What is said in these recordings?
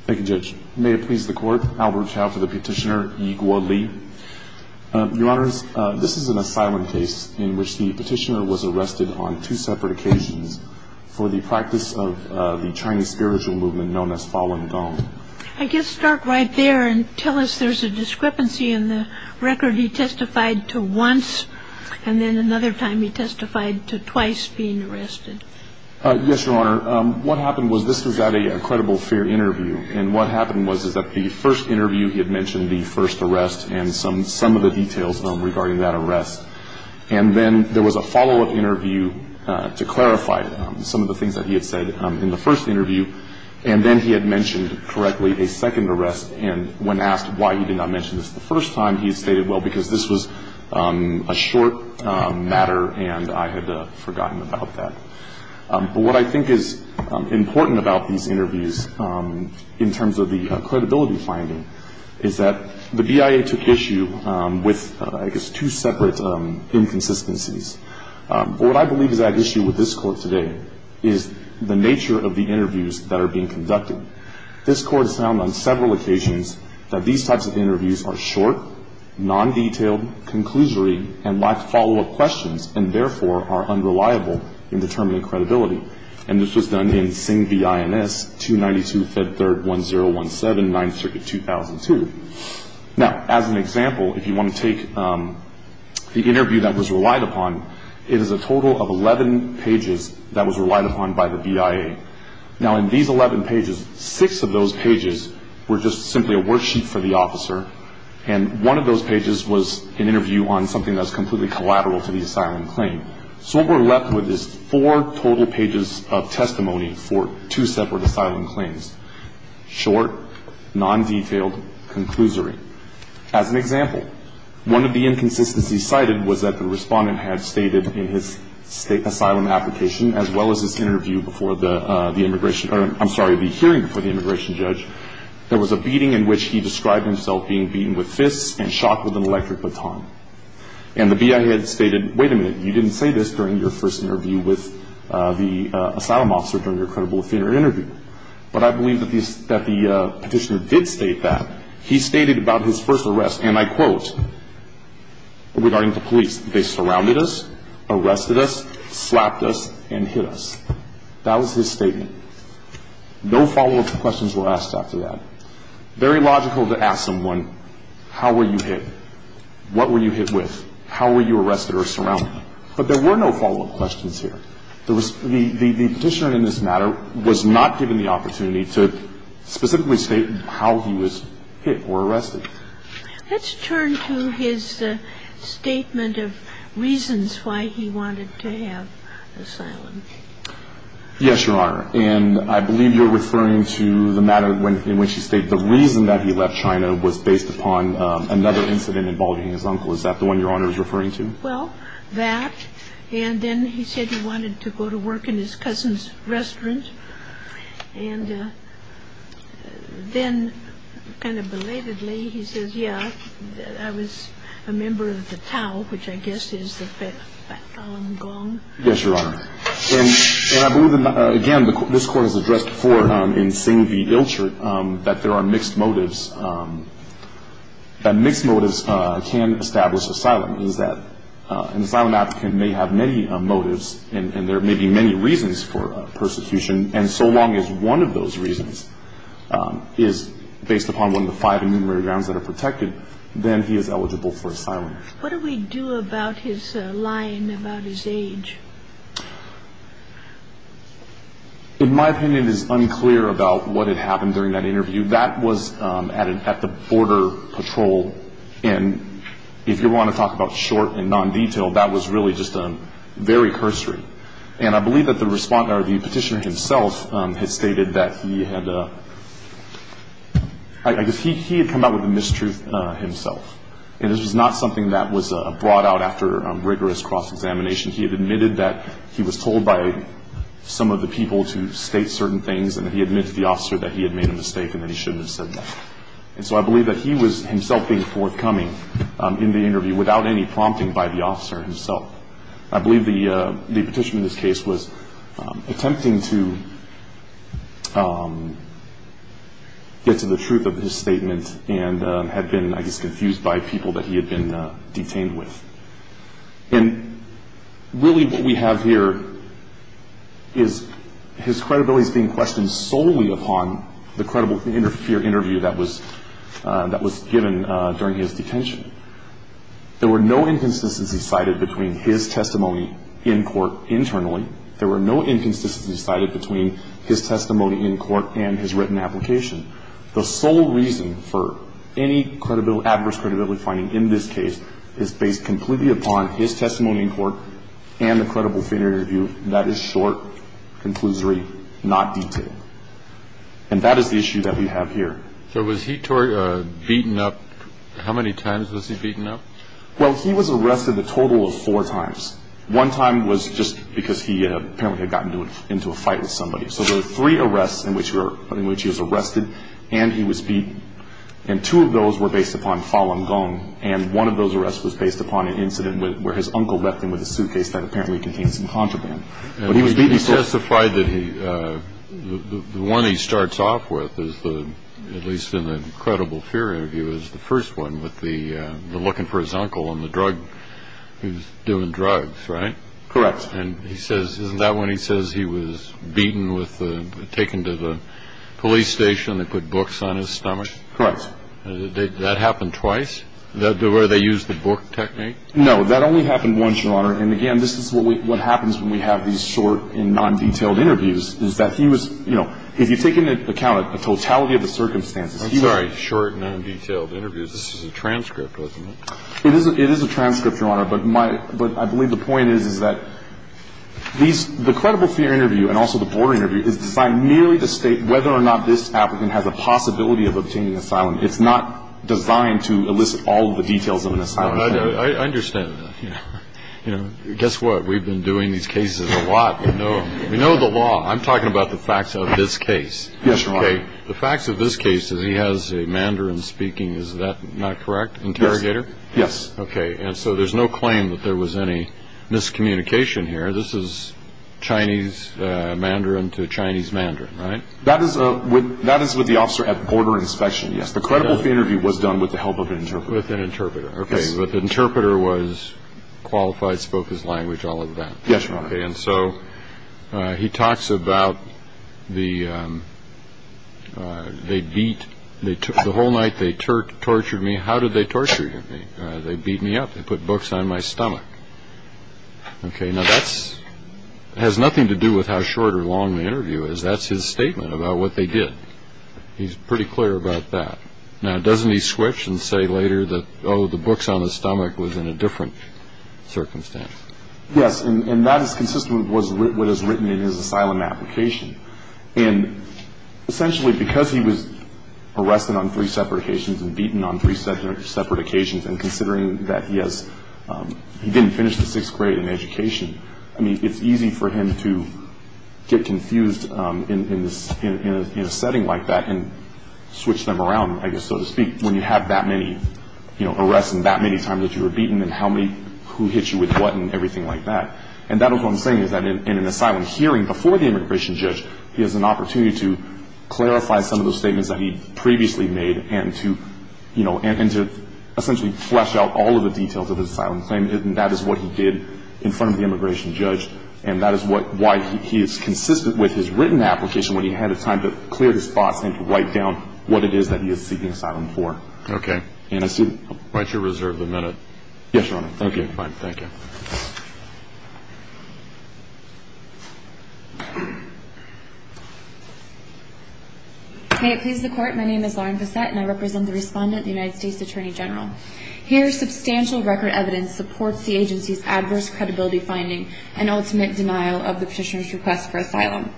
Thank you, Judge. May it please the Court, Albert Chao for the petitioner, Yi Guo Li. Your Honors, this is an asylum case in which the petitioner was arrested on two separate occasions for the practice of the Chinese spiritual movement known as Falun Gong. I guess start right there and tell us there's a discrepancy in the record. He testified to once, and then another time he testified to twice being arrested. Yes, Your Honor. What happened was this was at a Credible Fear interview. And what happened was that the first interview he had mentioned the first arrest and some of the details regarding that arrest. And then there was a follow-up interview to clarify some of the things that he had said in the first interview. And then he had mentioned correctly a second arrest. And when asked why he did not mention this the first time, he stated, well, because this was a short matter and I had forgotten about that. But what I think is important about these interviews in terms of the credibility finding is that the BIA took issue with, I guess, two separate inconsistencies. What I believe is at issue with this Court today is the nature of the interviews that are being conducted. This Court has found on several occasions that these types of interviews are short, non-detailed, conclusory, and lack follow-up questions, and therefore are unreliable in determining credibility. And this was done in Singh v. INS, 292 Fed Third 1017, 9th Circuit, 2002. Now, as an example, if you want to take the interview that was relied upon, it is a total of 11 pages that was relied upon by the BIA. Now, in these 11 pages, six of those pages were just simply a worksheet for the officer, and one of those pages was an interview on something that was completely collateral to the asylum claim. So what we're left with is four total pages of testimony for two separate asylum claims, short, non-detailed, conclusory. As an example, one of the inconsistencies cited was that the respondent had stated in his state asylum application, as well as his hearing before the immigration judge, there was a beating in which he described himself being beaten with fists and shot with an electric baton. And the BIA had stated, wait a minute, you didn't say this during your first interview with the asylum officer during your credible offender interview. But I believe that the petitioner did state that. He stated about his first arrest, and I quote, regarding the police, they surrounded us, arrested us, slapped us, and hit us. That was his statement. No follow-up questions were asked after that. Very logical to ask someone, how were you hit? What were you hit with? How were you arrested or surrounded? But there were no follow-up questions here. The petitioner in this matter was not given the opportunity to specifically state how he was hit or arrested. Let's turn to his statement of reasons why he wanted to have asylum. Yes, Your Honor. And I believe you're referring to the matter in which he stated the reason that he left China was based upon another incident involving his uncle. Is that the one Your Honor is referring to? Well, that. And then he said he wanted to go to work in his cousin's restaurant. And then kind of belatedly, he says, yeah, I was a member of the Tao, which I guess is the background gong. Yes, Your Honor. And I believe, again, this Court has addressed before in Singh v. Ilchert that there are mixed motives. That mixed motives can establish asylum. An asylum applicant may have many motives, and there may be many reasons for persecution. And so long as one of those reasons is based upon one of the five immemorial grounds that are protected, then he is eligible for asylum. What do we do about his line about his age? In my opinion, it is unclear about what had happened during that interview. That was at the border patrol. And if you want to talk about short and non-detail, that was really just a very cursory. And I believe that the petitioner himself had stated that he had come out with a mistruth himself. And this was not something that was brought out after a rigorous cross-examination. He had admitted that he was told by some of the people to state certain things, and he admitted to the officer that he had made a mistake and that he shouldn't have said that. And so I believe that he was himself being forthcoming in the interview without any prompting by the officer himself. I believe the petitioner in this case was attempting to get to the truth of his statement and had been, I guess, confused by people that he had been detained with. And really what we have here is his credibility is being questioned solely upon the credible interview that was given during his detention. There were no inconsistencies cited between his testimony in court internally. There were no inconsistencies cited between his testimony in court and his written application. The sole reason for any adverse credibility finding in this case is based completely upon his testimony in court and the credible interview that is short, conclusory, not detailed. And that is the issue that we have here. So was he beaten up? How many times was he beaten up? Well, he was arrested a total of four times. One time was just because he apparently had gotten into a fight with somebody. So there were three arrests in which he was arrested and he was beat. And two of those were based upon Falun Gong. And one of those arrests was based upon an incident where his uncle left him with a suitcase that apparently contained some contraband. He testified that the one he starts off with, at least in the credible fear interview, is the first one with the looking for his uncle and the drug. He was doing drugs, right? Correct. And he says, isn't that when he says he was beaten with the ‑‑ taken to the police station and they put books on his stomach? Correct. That happened twice? Where they used the book technique? No. That only happened once, Your Honor. And, again, this is what happens when we have these short and nondetailed interviews is that he was, you know, if you take into account a totality of the circumstances, he was ‑‑ I'm sorry. Short, nondetailed interviews. This is a transcript, wasn't it? It is a transcript, Your Honor. But my ‑‑ but I believe the point is, is that these ‑‑ the credible fear interview and also the border interview is designed merely to state whether or not this applicant has a possibility of obtaining asylum. It's not designed to elicit all of the details of an asylum. I understand that. You know, guess what? We've been doing these cases a lot. We know the law. I'm talking about the facts of this case. Yes, Your Honor. Okay? The facts of this case is he has a Mandarin speaking, is that not correct? Interrogator? Yes. Okay. And so there's no claim that there was any miscommunication here. This is Chinese Mandarin to Chinese Mandarin, right? That is with the officer at border inspection, yes. The credible fear interview was done with the help of an interpreter. With an interpreter. Okay. But the interpreter was qualified, spoke his language, all of that. Yes, Your Honor. Okay. And so he talks about the ‑‑ they beat ‑‑ the whole night they tortured me. How did they torture you? They beat me up. They put books on my stomach. Okay. Now, that has nothing to do with how short or long the interview is. That's his statement about what they did. He's pretty clear about that. Now, doesn't he switch and say later that, oh, the books on the stomach was in a different circumstance? Yes. And that is consistent with what is written in his asylum application. And essentially because he was arrested on three separate occasions and beaten on three separate occasions and considering that he has ‑‑ he didn't finish the sixth grade in education, I mean, it's easy for him to get confused in a setting like that and switch them around, I guess so to speak, when you have that many arrests and that many times that you were beaten and how many ‑‑ who hit you with what and everything like that. And that is what I'm saying is that in an asylum hearing before the immigration judge, he has an opportunity to clarify some of those statements that he previously made and to, you know, and to essentially flesh out all of the details of his asylum claim. And that is what he did in front of the immigration judge. And that is why he is consistent with his written application when he had the time to clear his thoughts and to write down what it is that he is seeking asylum for. Okay. And I see ‑‑ Why don't you reserve the minute? Yes, Your Honor. Thank you. Fine. Thank you. May it please the Court, my name is Lauren Bassett and I represent the respondent, the United States Attorney General. Here substantial record evidence supports the agency's adverse credibility finding and ultimate denial of the petitioner's request for asylum.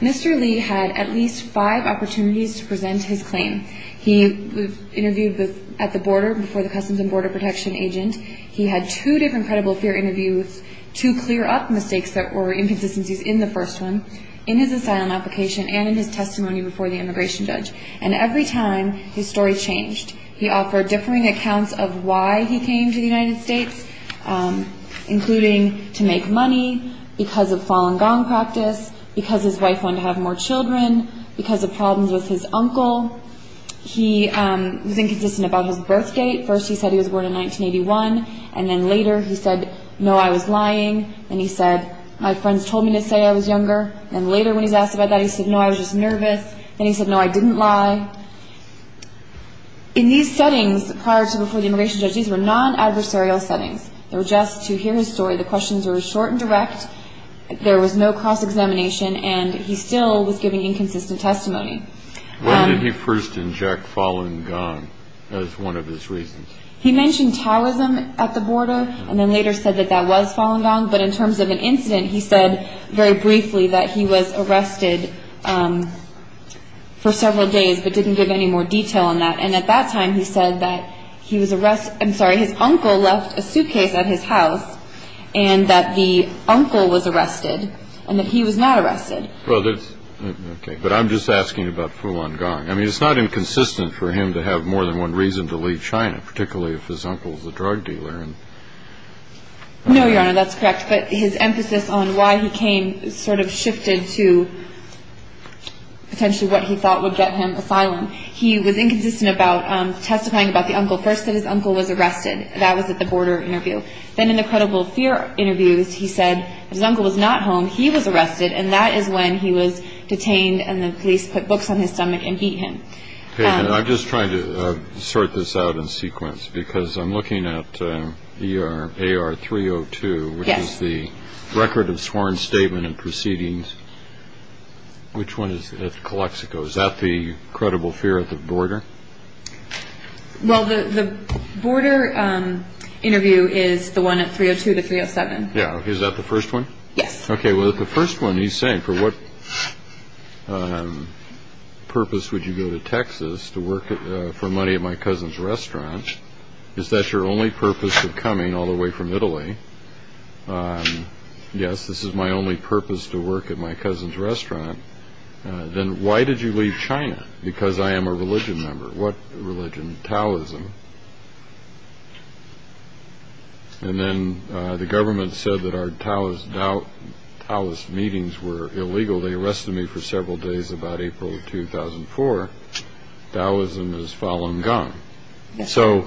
Mr. Lee had at least five opportunities to present his claim. He was interviewed at the border before the Customs and Border Protection agent. He had two different credible fear interviews to clear up mistakes that were inconsistencies in the first one in his asylum application and in his testimony before the immigration judge. And every time, his story changed. He offered differing accounts of why he came to the United States, including to make money because of Falun Gong practice, because his wife wanted to have more children, because of problems with his uncle. He was inconsistent about his birth date. First he said he was born in 1981, and then later he said, no, I was lying. Then he said, my friends told me to say I was younger. Then later when he was asked about that, he said, no, I was just nervous. Then he said, no, I didn't lie. In these settings prior to before the immigration judge, these were non-adversarial settings. They were just to hear his story. The questions were short and direct. There was no cross-examination, and he still was giving inconsistent testimony. When did he first inject Falun Gong as one of his reasons? He mentioned Taoism at the border, and then later said that that was Falun Gong. But in terms of an incident, he said very briefly that he was arrested for several days, but didn't give any more detail on that. And at that time, he said that he was arrested – I'm sorry, his uncle left a suitcase at his house, and that the uncle was arrested, and that he was not arrested. But I'm just asking about Falun Gong. I mean, it's not inconsistent for him to have more than one reason to leave China, particularly if his uncle is a drug dealer. No, Your Honor, that's correct. But his emphasis on why he came sort of shifted to potentially what he thought would get him asylum. He was inconsistent about testifying about the uncle. First that his uncle was arrested. That was at the border interview. Then in the credible fear interviews, he said his uncle was not home, he was arrested, and that is when he was detained and the police put books on his stomach and beat him. I'm just trying to sort this out in sequence because I'm looking at AR-302, which is the record of sworn statement and proceedings. Which one is it? Calexico. Is that the credible fear at the border? Well, the border interview is the one at 302 to 307. Yeah. Is that the first one? Yes. Okay, well, the first one he's saying, for what purpose would you go to Texas to work for money at my cousin's restaurant? Is that your only purpose of coming all the way from Italy? Yes, this is my only purpose to work at my cousin's restaurant. Then why did you leave China? Because I am a religion member. What religion? Taoism. Taoism. And then the government said that our Taoist meetings were illegal. They arrested me for several days about April of 2004. Taoism has fallen gone. So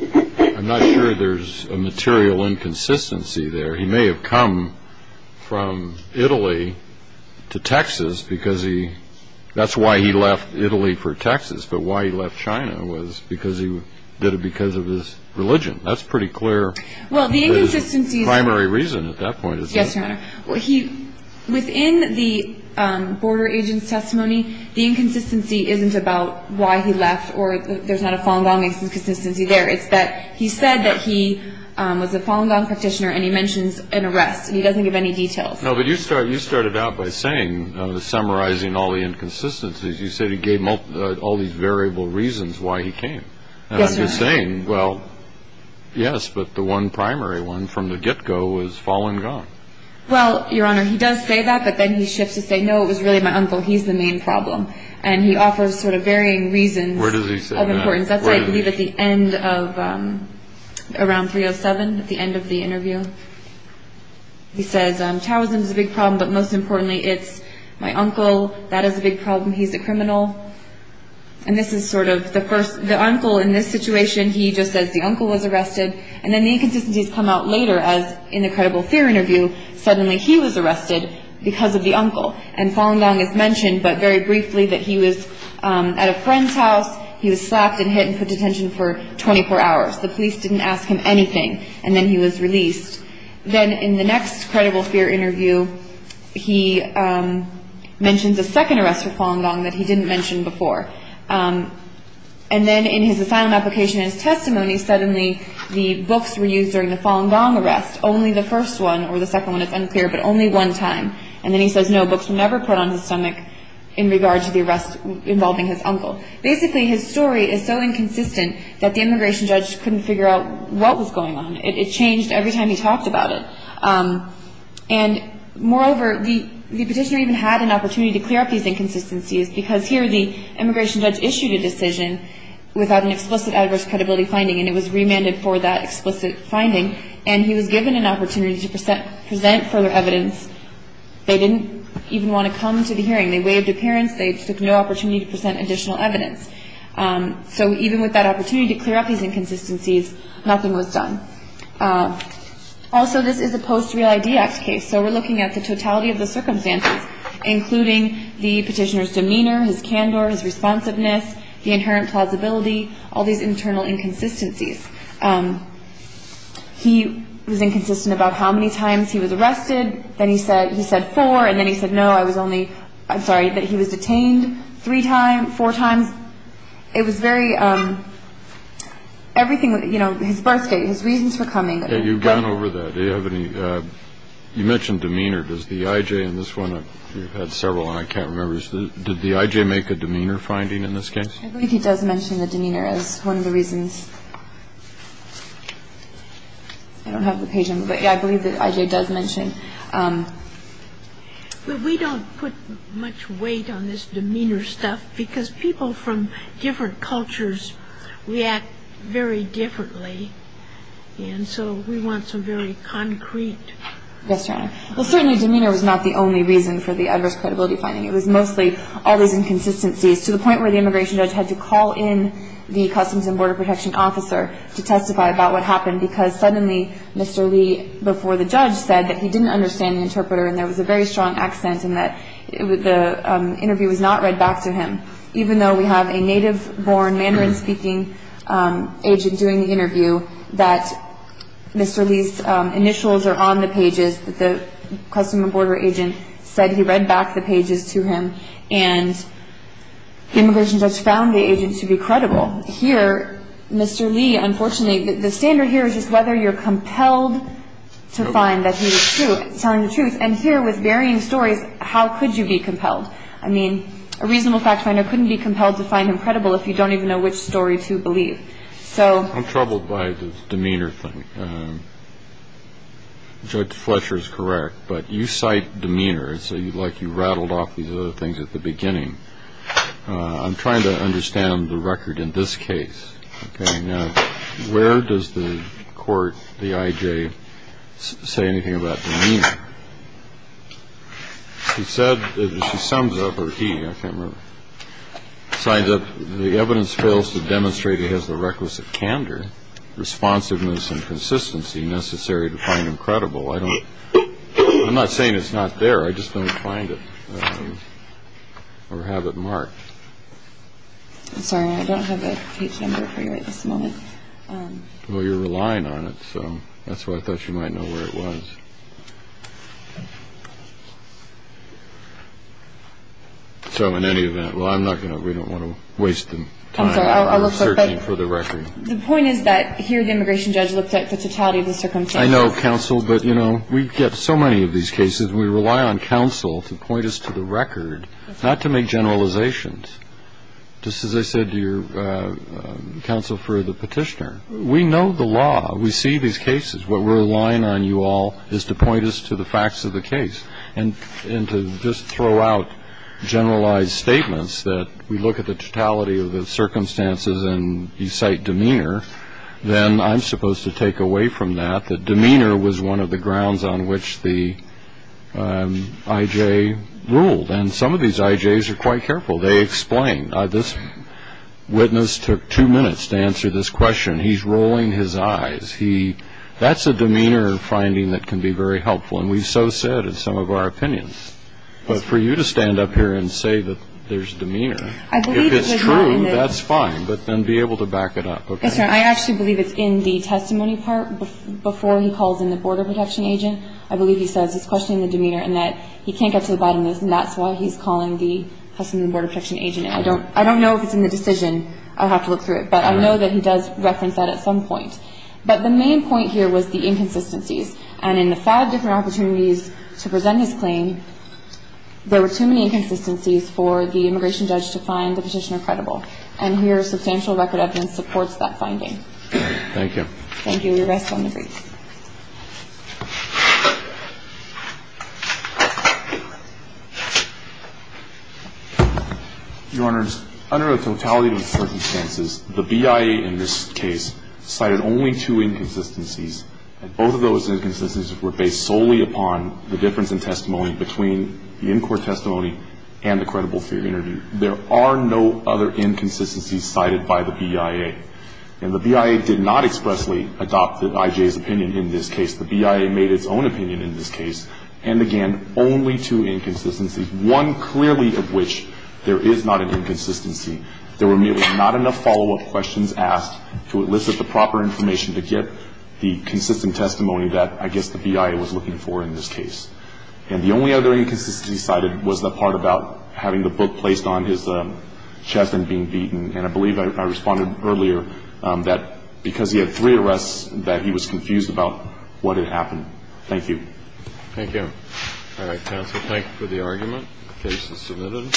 I'm not sure there's a material inconsistency there. He may have come from Italy to Texas because he that's why he left Italy for Texas, but why he left China was because he did it because of his religion. That's pretty clear. Well, the inconsistency is primary reason at that point. Yes, Your Honor. Within the border agent's testimony, the inconsistency isn't about why he left or there's not a fallen gone inconsistency there. It's that he said that he was a fallen gone practitioner, and he mentions an arrest, and he doesn't give any details. No, but you started out by saying, summarizing all the inconsistencies, you said he gave all these variable reasons why he came. Yes, Your Honor. And I'm just saying, well, yes, but the one primary one from the get-go was fallen gone. Well, Your Honor, he does say that, but then he shifts to say, no, it was really my uncle. He's the main problem. And he offers sort of varying reasons of importance. Where does he say that? That's, I believe, at the end of, around 307, at the end of the interview. He says, Taoism is a big problem, but most importantly, it's my uncle. That is a big problem. He's a criminal. And this is sort of the first, the uncle in this situation, he just says the uncle was arrested, and then the inconsistencies come out later as in the credible fear interview, suddenly he was arrested because of the uncle. And fallen gone is mentioned, but very briefly, that he was at a friend's house, he was slapped and hit and put in detention for 24 hours. The police didn't ask him anything, and then he was released. Then in the next credible fear interview, he mentions a second arrest for fallen gone that he didn't mention before. And then in his asylum application and his testimony, suddenly the books were used during the fallen gone arrest, only the first one, or the second one, it's unclear, but only one time. And then he says, no, books were never put on his stomach in regards to the arrest involving his uncle. Basically, his story is so inconsistent that the immigration judge couldn't figure out what was going on. It changed every time he talked about it. And moreover, the petitioner even had an opportunity to clear up these inconsistencies because here the immigration judge issued a decision without an explicit adverse credibility finding, and it was remanded for that explicit finding, and he was given an opportunity to present further evidence. They didn't even want to come to the hearing. They waived appearance. They took no opportunity to present additional evidence. So even with that opportunity to clear up these inconsistencies, nothing was done. Also, this is a post-Real ID Act case, so we're looking at the totality of the circumstances, including the petitioner's demeanor, his candor, his responsiveness, the inherent plausibility, all these internal inconsistencies. He was inconsistent about how many times he was arrested. Then he said four, and then he said, no, I was only – I'm sorry, that he was detained three times, four times. It was very – everything, you know, his birth date, his reasons for coming. Yeah, you've gone over that. Do you have any – you mentioned demeanor. Does the I.J. in this one – you've had several, and I can't remember – did the I.J. make a demeanor finding in this case? I believe he does mention the demeanor as one of the reasons. I don't have the page number, but yeah, I believe that I.J. does mention. But we don't put much weight on this demeanor stuff because people from different cultures react very differently, and so we want some very concrete – Yes, Your Honor. Well, certainly demeanor was not the only reason for the adverse credibility finding. It was mostly all these inconsistencies to the point where the immigration judge had to call in the Customs and Border Protection officer to testify about what happened because suddenly Mr. Lee, before the judge, said that he didn't understand the interpreter and there was a very strong accent and that the interview was not read back to him. Even though we have a native-born Mandarin-speaking agent doing the interview, that Mr. Lee's initials are on the pages, but the Customs and Border agent said he read back the pages to him and the immigration judge found the agent to be credible. Here, Mr. Lee, unfortunately, the standard here is just whether you're compelled to find that he was telling the truth. And here, with varying stories, how could you be compelled? I mean, a reasonable fact finder couldn't be compelled to find him credible if you don't even know which story to believe. I'm troubled by the demeanor thing. Judge Fletcher is correct, but you cite demeanor. It's like you rattled off these other things at the beginning. I'm trying to understand the record in this case. Where does the court, the IJ, say anything about demeanor? She said, she sums up, or he, I can't remember, signs up, the evidence fails to demonstrate it has the requisite candor, responsiveness and consistency necessary to find him credible. I don't, I'm not saying it's not there. I just don't find it or have it marked. I'm sorry, I don't have the page number for you at this moment. Well, you're relying on it. So that's why I thought you might know where it was. So in any event, well, I'm not going to. We don't want to waste time searching for the record. The point is that here, the immigration judge looked at the totality of the circumstances. I know, counsel. But, you know, we get so many of these cases. We rely on counsel to point us to the record, not to make generalizations. Just as I said to your counsel for the petitioner, we know the law. We see these cases. What we're relying on you all is to point us to the facts of the case and to just throw out generalized statements that we look at the totality of the circumstances and you cite demeanor, then I'm supposed to take away from that that demeanor was one of the grounds on which the IJ ruled. And some of these IJs are quite careful. They explain. This witness took two minutes to answer this question. He's rolling his eyes. That's a demeanor finding that can be very helpful. And we've so said in some of our opinions. But for you to stand up here and say that there's demeanor, if it's true, that's fine. But then be able to back it up. Yes, sir. I actually believe it's in the testimony part before he calls in the border protection agent. I believe he says he's questioning the demeanor and that he can't get to the bottom of this, and that's why he's calling the customs and border protection agent in. I don't know if it's in the decision. I'll have to look through it. But I know that he does reference that at some point. But the main point here was the inconsistencies. And in the five different opportunities to present his claim, there were too many inconsistencies for the immigration judge to find the petitioner credible. And here substantial record evidence supports that finding. Thank you. Thank you. We rest on the brief. Your Honors, under the totality of the circumstances, the BIA in this case cited only two inconsistencies. And both of those inconsistencies were based solely upon the difference in testimony between the in-court testimony and the credible theory interview. There are no other inconsistencies cited by the BIA. And the BIA did not expressly adopt the I.J.'s opinion. The BIA made its own opinion in this case. And, again, only two inconsistencies, one clearly of which there is not an inconsistency. There were merely not enough follow-up questions asked to elicit the proper information to get the consistent testimony that I guess the BIA was looking for in this case. And the only other inconsistency cited was the part about having the book placed on his chest and being beaten. And I believe I responded earlier that because he had three arrests that he was confused about what had happened. Thank you. Thank you. All right, counsel, thank you for the argument. The case is submitted. Thank you.